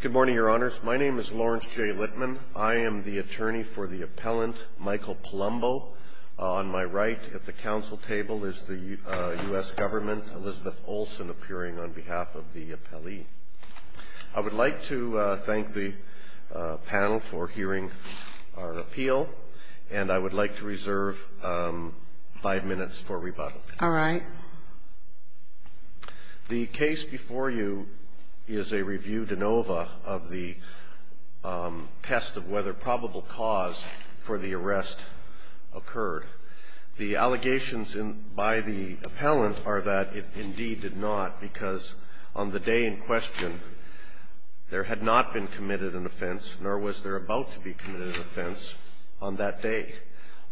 Good morning, your honors. My name is Lawrence J. Littman. I am the attorney for the appellant Michael Palumbo. On my right at the council table is the U.S. government, Elizabeth Olsen, appearing on behalf of the appellee. I would like to thank the panel for hearing our appeal, and I would like to reserve five minutes for rebuttal. All right. The case before you is a review de novo of the test of whether probable cause for the arrest occurred. The allegations by the appellant are that it indeed did not, because on the day in question, there had not been committed an offense, nor was there about to be committed an offense on that day.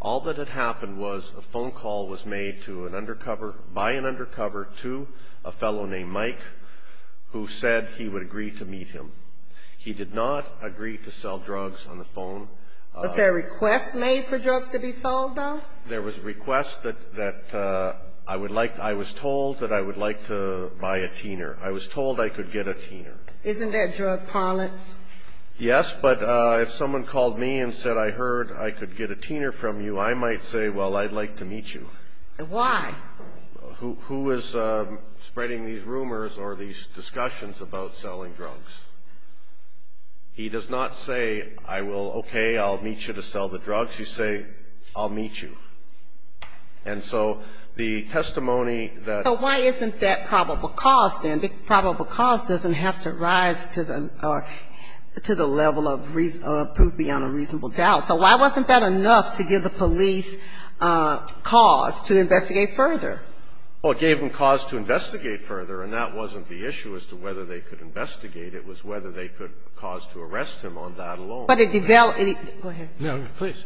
All that had happened was a phone call was made to an undercover by an undercover to a fellow named Mike, who said he would agree to meet him. He did not agree to sell drugs on the phone. Was there a request made for drugs to be sold, though? There was a request that I would like I was told that I would like to buy a teener. I was told I could get a teener. Isn't that drug parlance? Yes, but if someone called me and said, I heard I could get a teener from you, I might say, well, I'd like to meet you. Why? Who is spreading these rumors or these discussions about selling drugs? He does not say, I will, okay, I'll meet you to sell the drugs. You say, I'll meet you. And so the testimony that the law is in fact probable cause, then probable cause doesn't have to rise to the level of proof beyond a reasonable doubt. So why wasn't that enough to give the police cause to investigate further? Well, it gave them cause to investigate further, and that wasn't the issue as to whether they could investigate. It was whether they could cause to arrest him on that alone. But it developed. Go ahead. No, please.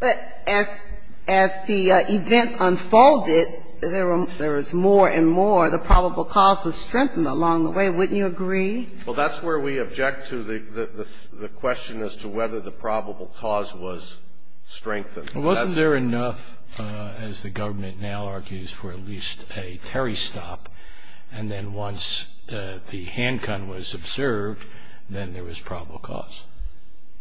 But as the events unfolded, there was more and more. The probable cause was strengthened along the way. Wouldn't you agree? Well, that's where we object to the question as to whether the probable cause was strengthened. Well, wasn't there enough, as the government now argues, for at least a Terry stop, and then once the handgun was observed, then there was probable cause?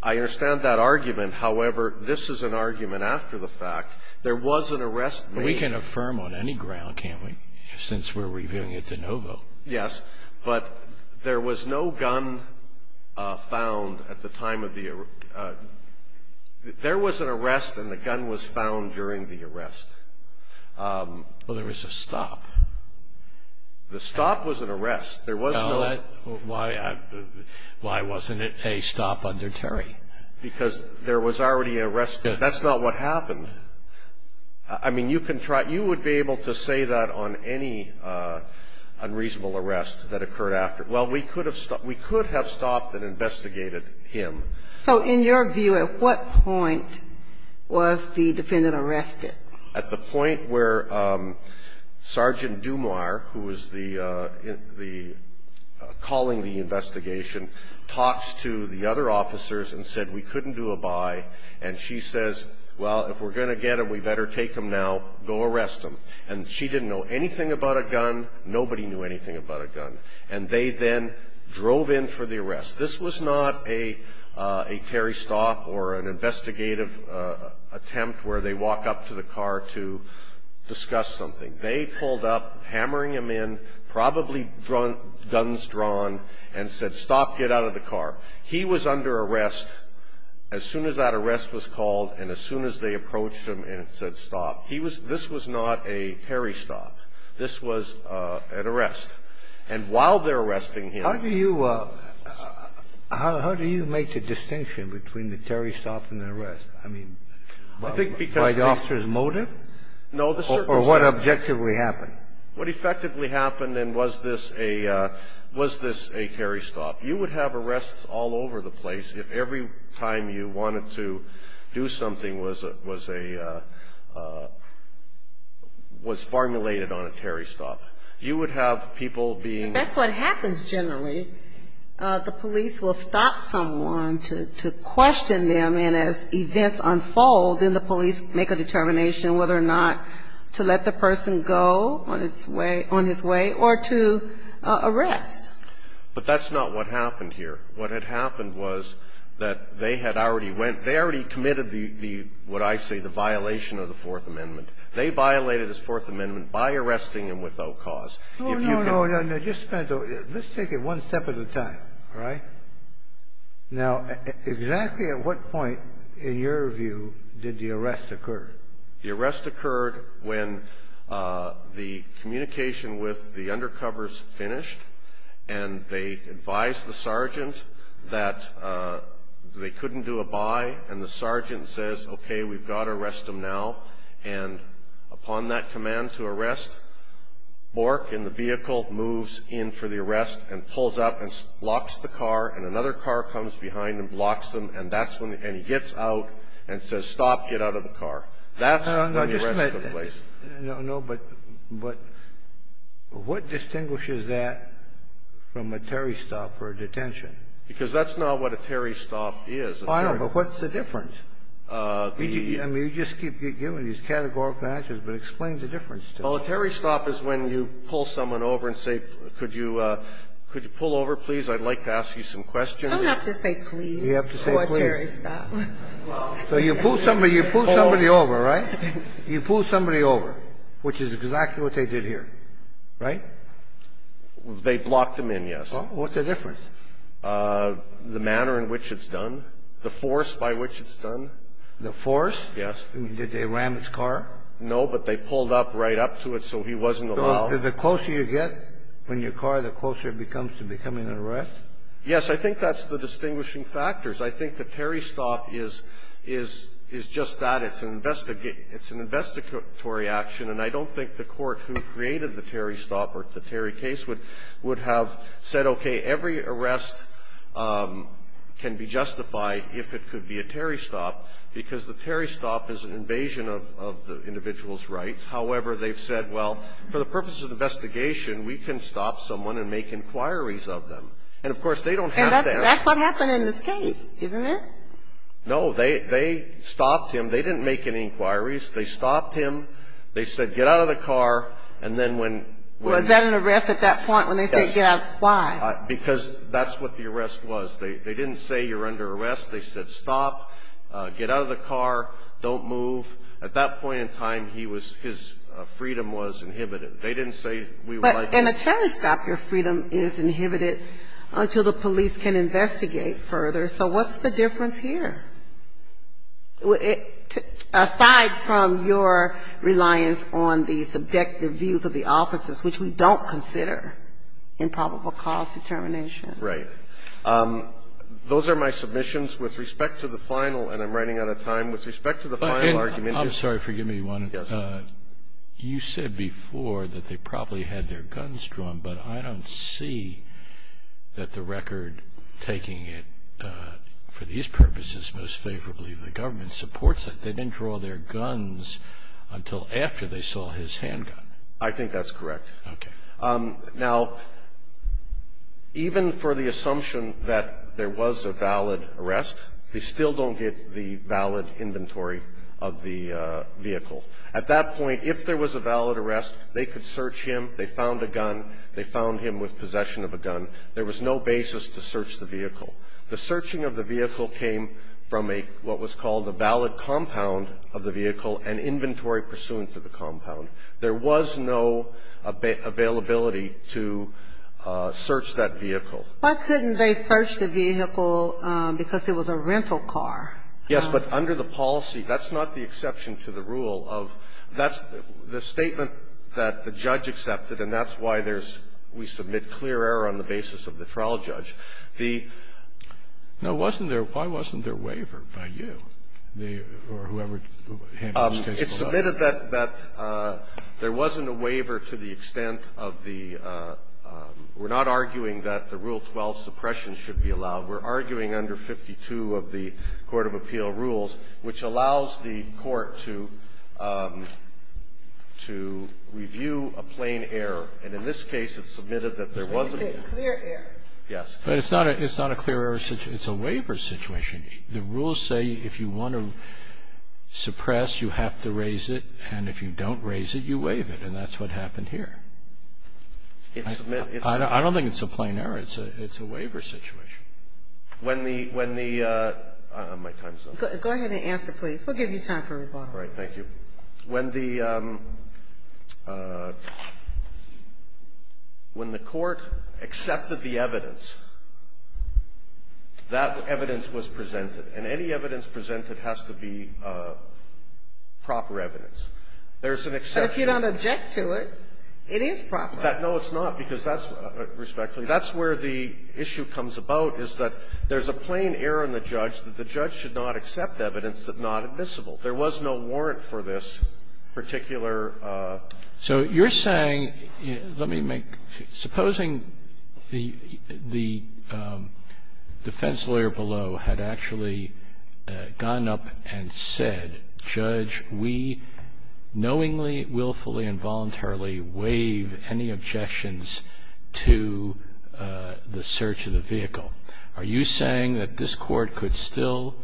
I understand that argument. However, this is an argument after the fact. There was an arrest made. We can affirm on any ground, can't we, since we're reviewing it to no vote? Yes. But there was no gun found at the time of the arrest. There was an arrest, and the gun was found during the arrest. Well, there was a stop. The stop was an arrest. There was no stop. Why wasn't it a stop under Terry? Because there was already an arrest. That's not what happened. I mean, you can try. You would be able to say that on any unreasonable arrest that occurred after. Well, we could have stopped. We could have stopped and investigated him. So in your view, at what point was the defendant arrested? At the point where Sergeant Dumar, who was the calling the investigation, talks to the other officers and said, we couldn't do a bye, and she says, well, if we're going to get him, we better take him now, go arrest him. And she didn't know anything about a gun. Nobody knew anything about a gun. And they then drove in for the arrest. This was not a Terry stop or an investigative attempt where they walk up to the car to discuss something. They pulled up, hammering him in, probably guns drawn, and said, stop, get out of the car. He was under arrest. As soon as that arrest was called and as soon as they approached him and said stop, he was this was not a Terry stop. This was an arrest. And while they're arresting him. How do you make a distinction between the Terry stop and the arrest? I mean, by the officer's motive? No, the circumstance. Or what objectively happened. What effectively happened and was this a Terry stop. You would have arrests all over the place if every time you wanted to do something was formulated on a Terry stop. You would have people being. That's what happens generally. The police will stop someone to question them, and as events unfold, then the police make a determination whether or not to let the person go on his way or to arrest. But that's not what happened here. What had happened was that they had already went. They already committed the, what I say, the violation of the Fourth Amendment. They violated his Fourth Amendment by arresting him without cause. If you can. No, no, no. Let's take it one step at a time. All right? Now, exactly at what point, in your view, did the arrest occur? The arrest occurred when the communication with the undercovers finished, and they advised the sergeant that they couldn't do a bye, and the sergeant says, okay, we've got to arrest him now. And upon that command to arrest, Bork in the vehicle moves in for the arrest and pulls up and locks the car, and another car comes behind and blocks him, and that's when he gets out and says, stop, get out of the car. That's when the arrest took place. No, but what distinguishes that from a Terry stop or a detention? Because that's not what a Terry stop is. I know, but what's the difference? I mean, you just keep giving these categorical answers, but explain the difference to us. Well, a Terry stop is when you pull someone over and say, could you pull over, please? I'd like to ask you some questions. You don't have to say please. You have to say please. Or a Terry stop. So you pull somebody over, right? You pull somebody over, which is exactly what they did here, right? They blocked him in, yes. What's the difference? The manner in which it's done, the force by which it's done. The force? Yes. Did they ram his car? No, but they pulled up right up to it, so he wasn't allowed. The closer you get when you're caught, the closer it becomes to becoming an arrest? Yes. I think that's the distinguishing factors. I think the Terry stop is just that. It's an investigatory action. And I don't think the Court who created the Terry stop or the Terry case would have said, okay, every arrest can be justified if it could be a Terry stop, because the Terry stop is an invasion of the individual's rights. However, they've said, well, for the purpose of the investigation, we can stop someone and make inquiries of them. And, of course, they don't have to ask. And that's what happened in this case, isn't it? No, they stopped him. They didn't make any inquiries. They stopped him. They said, get out of the car. And then when they said get out, why? Because that's what the arrest was. They didn't say you're under arrest. They said stop, get out of the car, don't move. At that point in time, he was ‑‑ his freedom was inhibited. They didn't say we would like to ‑‑ But in a Terry stop, your freedom is inhibited until the police can investigate further. So what's the difference here? Aside from your reliance on the subjective views of the officers, which we don't consider in probable cause determination. Right. Those are my submissions. With respect to the final, and I'm running out of time. With respect to the final argument. I'm sorry, forgive me, Juan. Yes. You said before that they probably had their guns drawn, but I don't see that the record taking it for these purposes most favorably the government supports it. They didn't draw their guns until after they saw his handgun. I think that's correct. Okay. Now, even for the assumption that there was a valid arrest, they still don't get the valid inventory of the vehicle. At that point, if there was a valid arrest, they could search him, they found a gun, they found him with possession of a gun. There was no basis to search the vehicle. The searching of the vehicle came from what was called a valid compound of the vehicle and inventory pursuant to the compound. There was no availability to search that vehicle. Why couldn't they search the vehicle because it was a rental car? Yes. But under the policy, that's not the exception to the rule of the statement that the judge accepted, and that's why there's we submit clear error on the basis of the trial judge. The ---- Now, wasn't there why wasn't there a waiver by you or whoever handled the case? It's submitted that there wasn't a waiver to the extent of the we're not arguing that the Rule 12 suppression should be allowed. We're arguing under 52 of the Court of Appeal rules, which allows the court to review a plain error. And in this case, it's submitted that there was a clear error. Yes. But it's not a clear error situation. It's a waiver situation. The rules say if you want to suppress, you have to raise it, and if you don't raise it, you waive it, and that's what happened here. I don't think it's a plain error. It's a waiver situation. When the ---- My time is up. Go ahead and answer, please. We'll give you time for rebuttal. All right. Thank you. When the court accepted the evidence, that evidence was presented. And any evidence presented has to be proper evidence. There's an exception. So if you don't object to it, it is proper. No, it's not, because that's where the issue comes about, is that there's a plain error in the judge that the judge should not accept evidence that's not admissible. There was no warrant for this particular ---- So you're saying, let me make ---- supposing the defense lawyer below had actually gone up and said, Judge, we knowingly, willfully, and voluntarily waive any objections to the search of the vehicle, are you saying that this Court could still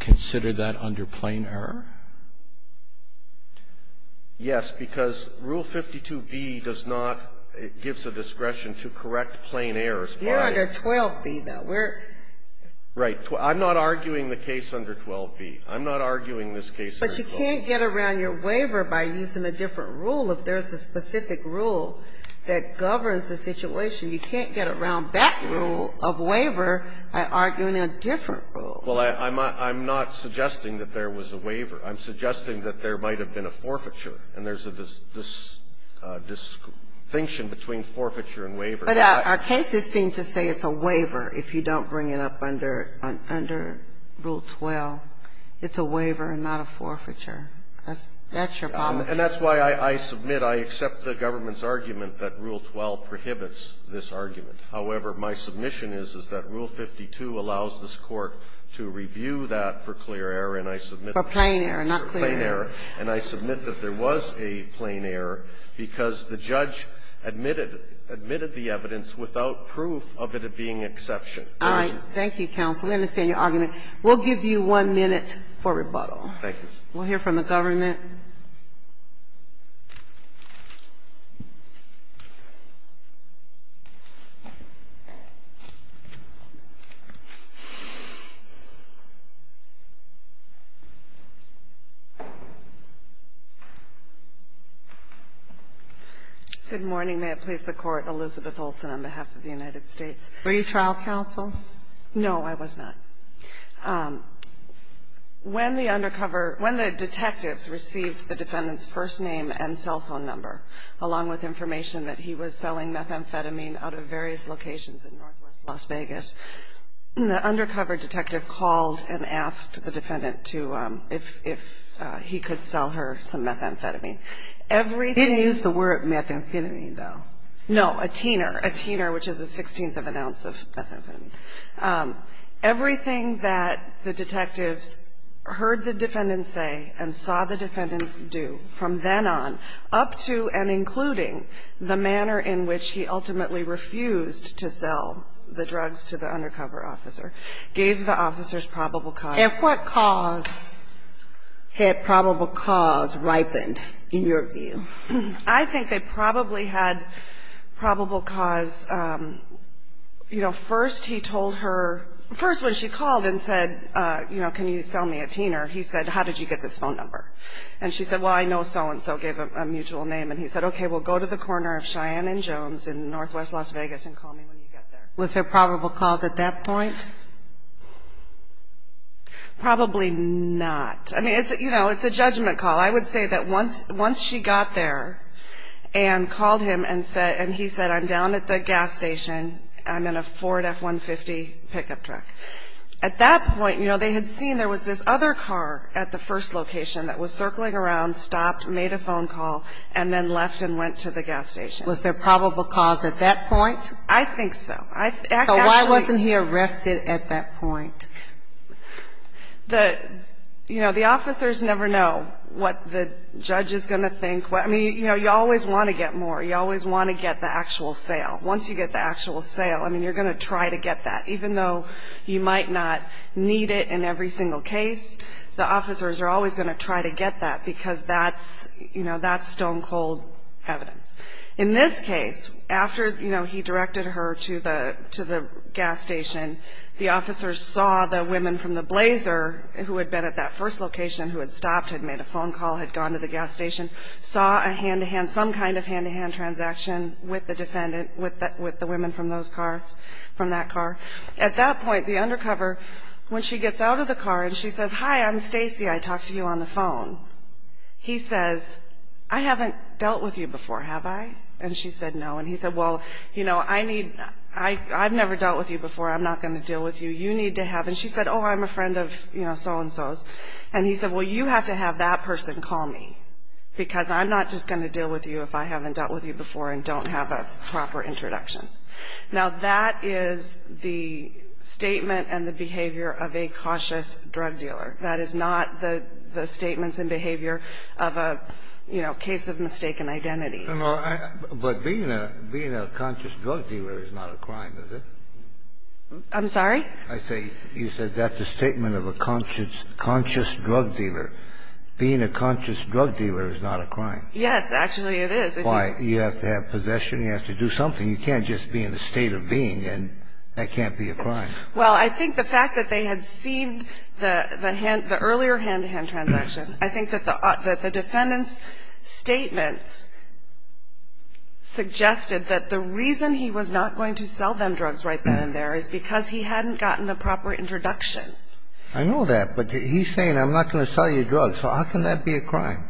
consider that under plain error? Yes, because Rule 52b does not ---- gives the discretion to correct plain errors by ---- You're under 12b, though. We're ---- Right. I'm not arguing the case under 12b. I'm not arguing this case under 12b. But you can't get around your waiver by using a different rule if there's a specific rule that governs the situation. You can't get around that rule of waiver by arguing a different rule. Well, I'm not suggesting that there was a waiver. I'm suggesting that there might have been a forfeiture, and there's a distinction between forfeiture and waiver. But our cases seem to say it's a waiver if you don't bring it up under Rule 12. It's a waiver and not a forfeiture. That's your problem. And that's why I submit, I accept the government's argument that Rule 12 prohibits this argument. However, my submission is, is that Rule 52 allows this Court to review that for clear error, and I submit that there was a plain error because the judge admitted the evidence without proof of it being exception. All right. Thank you, counsel. We understand your argument. We'll give you one minute for rebuttal. Thank you. We'll hear from the government. Good morning. May it please the Court. Elizabeth Olson on behalf of the United States. Were you trial counsel? No, I was not. When the undercover, when the detectives received the defendant's first name and cell phone number, along with information that he was selling methamphetamine out of various locations in northwest Las Vegas, the undercover detective called and asked the defendant to, if he could sell her some methamphetamine. Didn't use the word methamphetamine, though. No, a tiner, a tiner, which is a sixteenth of an ounce of methamphetamine. Everything that the detectives heard the defendant say and saw the defendant do from then on, up to and including the manner in which he ultimately refused to sell the drugs to the undercover officer, gave the officers probable cause. If what cause had probable cause ripened, in your view? I think they probably had probable cause, you know, first he told her, first when she called and said, you know, can you sell me a tiner, he said, how did you get this phone number? And she said, well, I know so-and-so gave a mutual name. And he said, okay, well, go to the corner of Cheyenne and Jones in northwest Las Vegas and call me when you get there. Was there probable cause at that point? Probably not. I mean, you know, it's a judgment call. I would say that once she got there and called him and said, and he said, I'm down at the gas station, I'm in a Ford F-150 pickup truck. At that point, you know, they had seen there was this other car at the first location that was circling around, stopped, made a phone call, and then left and went to the gas station. Was there probable cause at that point? I think so. So why wasn't he arrested at that point? The, you know, the officers never know what the judge is going to think. I mean, you know, you always want to get more. You always want to get the actual sale. Once you get the actual sale, I mean, you're going to try to get that. Even though you might not need it in every single case, the officers are always going to try to get that because that's, you know, that's stone cold evidence. In this case, after, you know, he directed her to the gas station, the officers saw the women from the Blazer who had been at that first location, who had stopped, had made a phone call, had gone to the gas station, saw a hand-to-hand, some kind of hand-to-hand transaction with the defendant, with the women from those cars, from that car. At that point, the undercover, when she gets out of the car and she says, hi, I'm Stacy, I talked to you on the phone. He says, I haven't dealt with you before, have I? And she said, no. And he said, well, you know, I need, I've never dealt with you before. I'm not going to deal with you. You need to have. And she said, oh, I'm a friend of, you know, so-and-so's. And he said, well, you have to have that person call me because I'm not just going to deal with you if I haven't dealt with you before and don't have a proper introduction. Now, that is the statement and the behavior of a cautious drug dealer. That is not the statements and behavior of a, you know, case of mistaken identity. Kennedy. But being a conscious drug dealer is not a crime, is it? I'm sorry? I say, you said that's a statement of a conscious drug dealer. Being a conscious drug dealer is not a crime. Yes, actually, it is. Why? You have to have possession. You have to do something. You can't just be in a state of being and that can't be a crime. Well, I think the fact that they had seen the earlier hand-to-hand transaction, I think that the defendant's statements suggested that the reason he was not going to sell them drugs right then and there is because he hadn't gotten a proper introduction. I know that. But he's saying, I'm not going to sell you drugs. So how can that be a crime?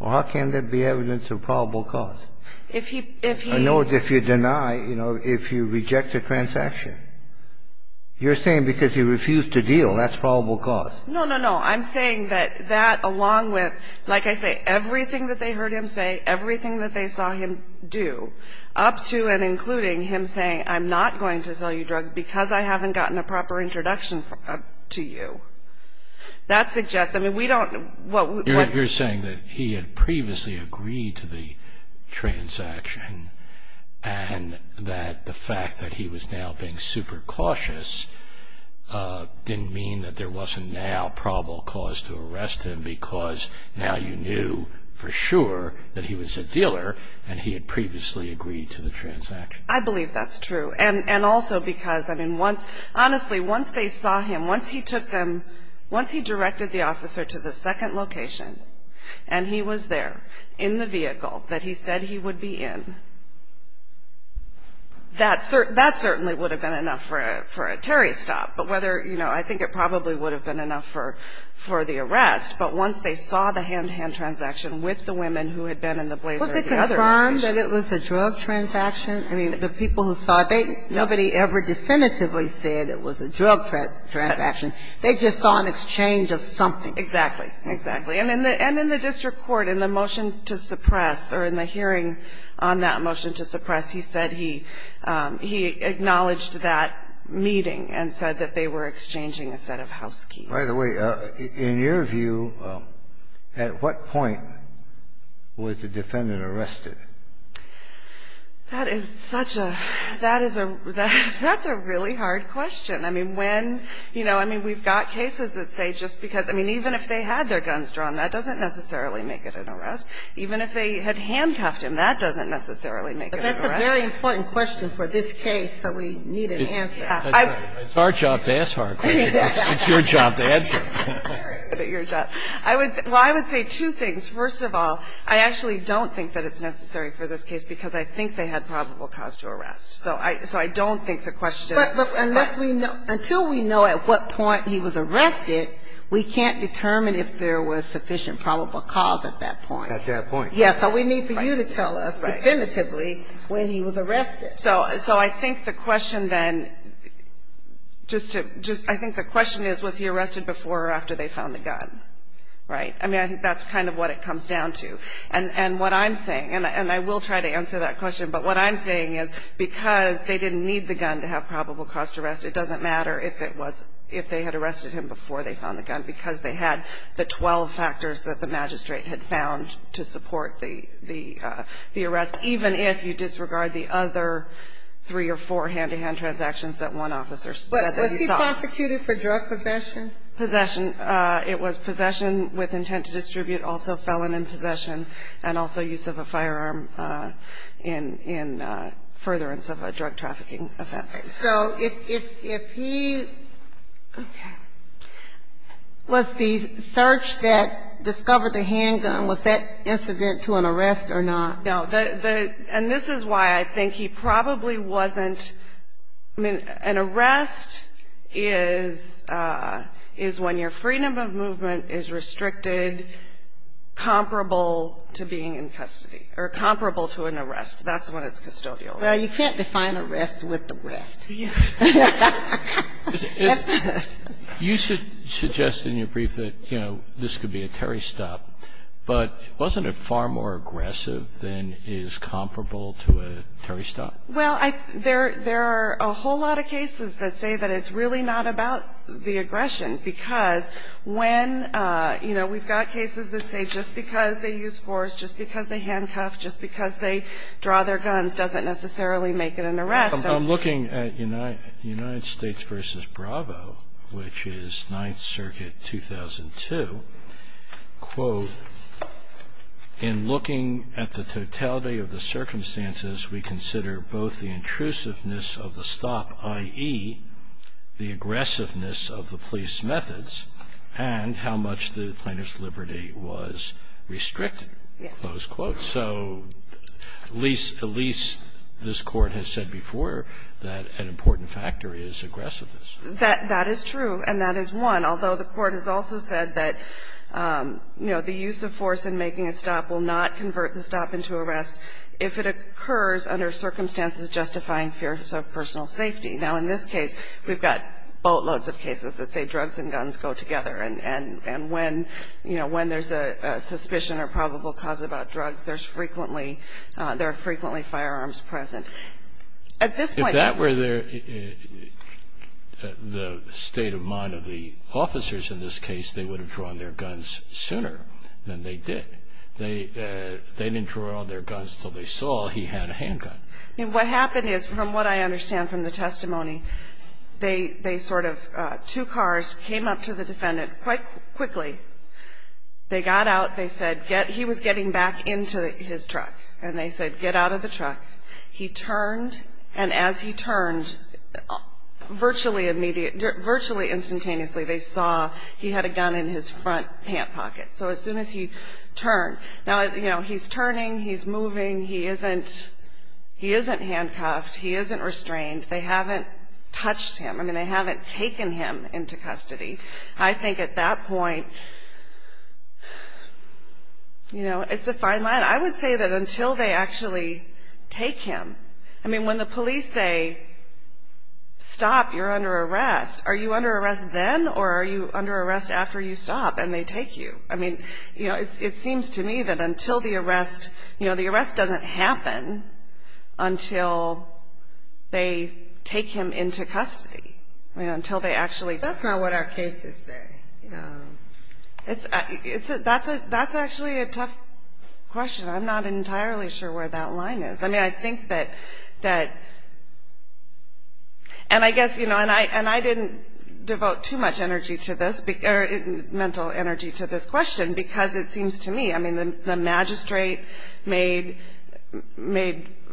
Or how can that be evidence of probable cause? I know if you deny, you know, if you reject a transaction. You're saying because he refused to deal, that's probable cause. No, no, no. I'm saying that that, along with, like I say, everything that they heard him say, everything that they saw him do, up to and including him saying, I'm not going to sell you drugs because I haven't gotten a proper introduction to you. That suggests, I mean, we don't know. You're saying that he had previously agreed to the transaction and that the fact that he was now being super cautious didn't mean that there wasn't now probable cause to arrest him because now you knew for sure that he was a dealer and he had previously agreed to the transaction. I believe that's true. And also because, I mean, honestly, once they saw him, once he took them, once he directed the officer to the second location and he was there in the vehicle that he said he would be in, that certainly would have been enough for a Terry stop. But whether, you know, I think it probably would have been enough for the arrest, but once they saw the hand-to-hand transaction with the women who had been in the blazer at the other location. Was it confirmed that it was a drug transaction? I mean, the people who saw it, nobody ever definitively said it was a drug transaction. They just saw an exchange of something. Exactly. Exactly. And in the district court, in the motion to suppress or in the hearing on that motion to suppress, he said he acknowledged that meeting and said that they were exchanging a set of house keys. By the way, in your view, at what point was the defendant arrested? That is such a – that is a – that's a really hard question. I mean, when – you know, I mean, we've got cases that say just because – I mean, even if they had their guns drawn, that doesn't necessarily make it an arrest. Even if they had handcuffed him, that doesn't necessarily make it an arrest. But that's a very important question for this case, so we need an answer. It's our job to ask hard questions. It's your job to answer. It's your job. I would – well, I would say two things. First of all, I actually don't think that it's necessary for this case because I think they had probable cause to arrest. So I – so I don't think the question – But look, unless we know – until we know at what point he was arrested, we can't determine if there was sufficient probable cause at that point. Yes. So we need for you to tell us, definitively, when he was arrested. So I think the question then – just to – I think the question is was he arrested before or after they found the gun, right? I mean, I think that's kind of what it comes down to. And what I'm saying – and I will try to answer that question – but what I'm saying is because they didn't need the gun to have probable cause to arrest, it doesn't matter if it was – if they had arrested him before they found the gun because they had the 12 factors that the magistrate had found to support the arrest, even if you disregard the other three or four hand-to-hand transactions that one officer said that he saw. But was he prosecuted for drug possession? Possession. It was possession with intent to distribute, also felon in possession, and also use of a firearm in furtherance of a drug trafficking offense. So if he – okay. Was the search that discovered the handgun, was that incident to an arrest or not? No. And this is why I think he probably wasn't – I mean, an arrest is when your freedom of movement is restricted comparable to being in custody, or comparable to an arrest. That's when it's custodial. Well, you can't define arrest with arrest. You should suggest in your brief that, you know, this could be a Terry stop, but wasn't it far more aggressive than is comparable to a Terry stop? Well, there are a whole lot of cases that say that it's really not about the aggression, because when, you know, we've got cases that say just because they use force, just because they handcuff, just because they draw their guns doesn't necessarily make it an arrest. I'm looking at United States v. Bravo, which is 9th Circuit, 2002. Quote, in looking at the totality of the circumstances, we consider both the intrusiveness of the stop, i.e., the aggressiveness of the police methods, and how much the plaintiff's liberty was restricted. Close quote. So at least this Court has said before that an important factor is aggressiveness. That is true, and that is one. Although the Court has also said that, you know, the use of force in making a stop will not convert the stop into arrest if it occurs under circumstances justifying fears of personal safety. Now, in this case, we've got boatloads of cases that say drugs and guns go together. And when, you know, when there's a suspicion or probable cause about drugs, there are frequently firearms present. If that were the state of mind of the officers in this case, they would have drawn their guns sooner than they did. They didn't draw their guns until they saw he had a handgun. What happened is, from what I understand from the testimony, they sort of, two cars came up to the defendant quite quickly. They got out. They said, he was getting back into his truck. And they said, get out of the truck. He turned, and as he turned, virtually instantaneously they saw he had a gun in his front hand pocket. So as soon as he turned. Now, you know, he's turning, he's moving, he isn't handcuffed, he isn't restrained. They haven't touched him. I mean, they haven't taken him into custody. I think at that point, you know, it's a fine line. I would say that until they actually take him. I mean, when the police say, stop, you're under arrest, are you under arrest then or are you under arrest after you stop and they take you? I mean, you know, it seems to me that until the arrest. You know, the arrest doesn't happen until they take him into custody. Until they actually. That's not what our cases say. That's actually a tough question. I'm not entirely sure where that line is. I mean, I think that. And I guess, you know, and I didn't devote too much energy to this, mental energy to this question because it seems to me, I mean, the magistrate made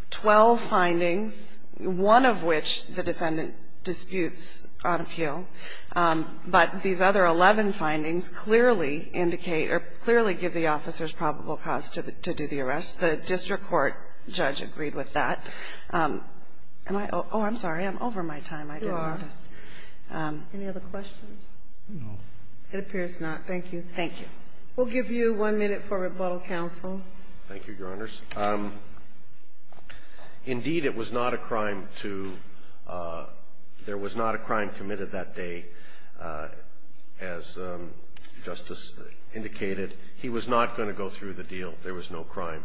12 findings, one of which the defendant disputes on appeal. But these other 11 findings clearly indicate or clearly give the officers probable cause to do the arrest. The district court judge agreed with that. Am I? Oh, I'm sorry. I'm over my time. I didn't notice. You are. Any other questions? No. It appears not. Thank you. Thank you. We'll give you one minute for rebuttal, counsel. Thank you, Your Honors. Indeed, it was not a crime to, there was not a crime committed that day. As Justice indicated, he was not going to go through the deal. There was no crime.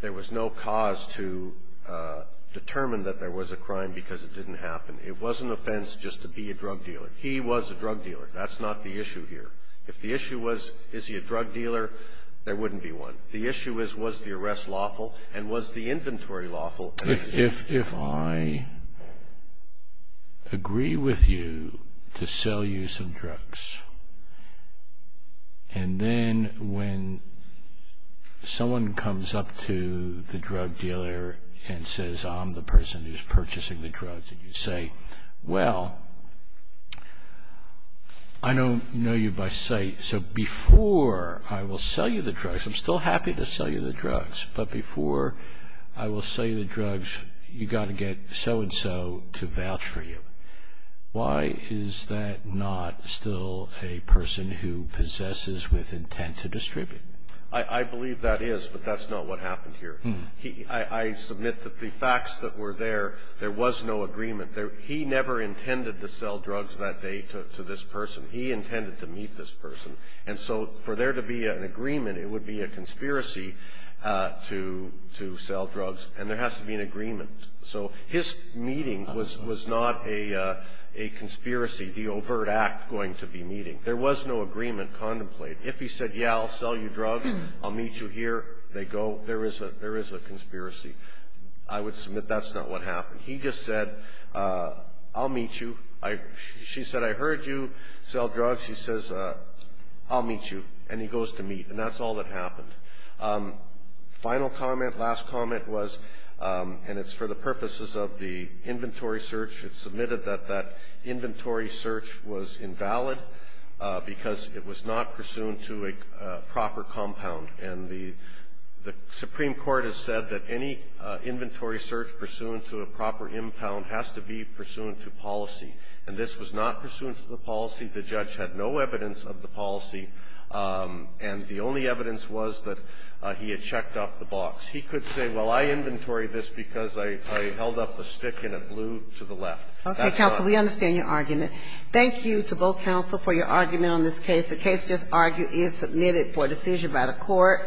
There was no cause to determine that there was a crime because it didn't happen. It was an offense just to be a drug dealer. He was a drug dealer. That's not the issue here. If the issue was, is he a drug dealer, there wouldn't be one. The issue is, was the arrest lawful and was the inventory lawful? Well, if I agree with you to sell you some drugs, and then when someone comes up to the drug dealer and says, I'm the person who's purchasing the drugs, and you say, well, I don't know you by sight. So before I will sell you the drugs, I'm still happy to sell you the drugs. But before I will sell you the drugs, you've got to get so-and-so to vouch for you. Why is that not still a person who possesses with intent to distribute? I believe that is, but that's not what happened here. I submit that the facts that were there, there was no agreement. He never intended to sell drugs that day to this person. He intended to meet this person. And so for there to be an agreement, it would be a conspiracy to sell drugs. And there has to be an agreement. So his meeting was not a conspiracy, the overt act going to be meeting. There was no agreement contemplated. If he said, yeah, I'll sell you drugs, I'll meet you here, they go, there is a conspiracy. I would submit that's not what happened. He just said, I'll meet you. She said, I heard you sell drugs. He says, I'll meet you. And he goes to meet. And that's all that happened. Final comment, last comment was, and it's for the purposes of the inventory search, it's submitted that that inventory search was invalid because it was not pursuant to a proper compound. And the Supreme Court has said that any inventory search pursuant to a proper impound has to be pursuant to policy. And this was not pursuant to the policy. The judge had no evidence of the policy. And the only evidence was that he had checked off the box. He could say, well, I inventory this because I held up the stick and it blew to the left. That's all. Okay, counsel, we understand your argument. Thank you to both counsel for your argument on this case. The case just argued is submitted for decision by the court.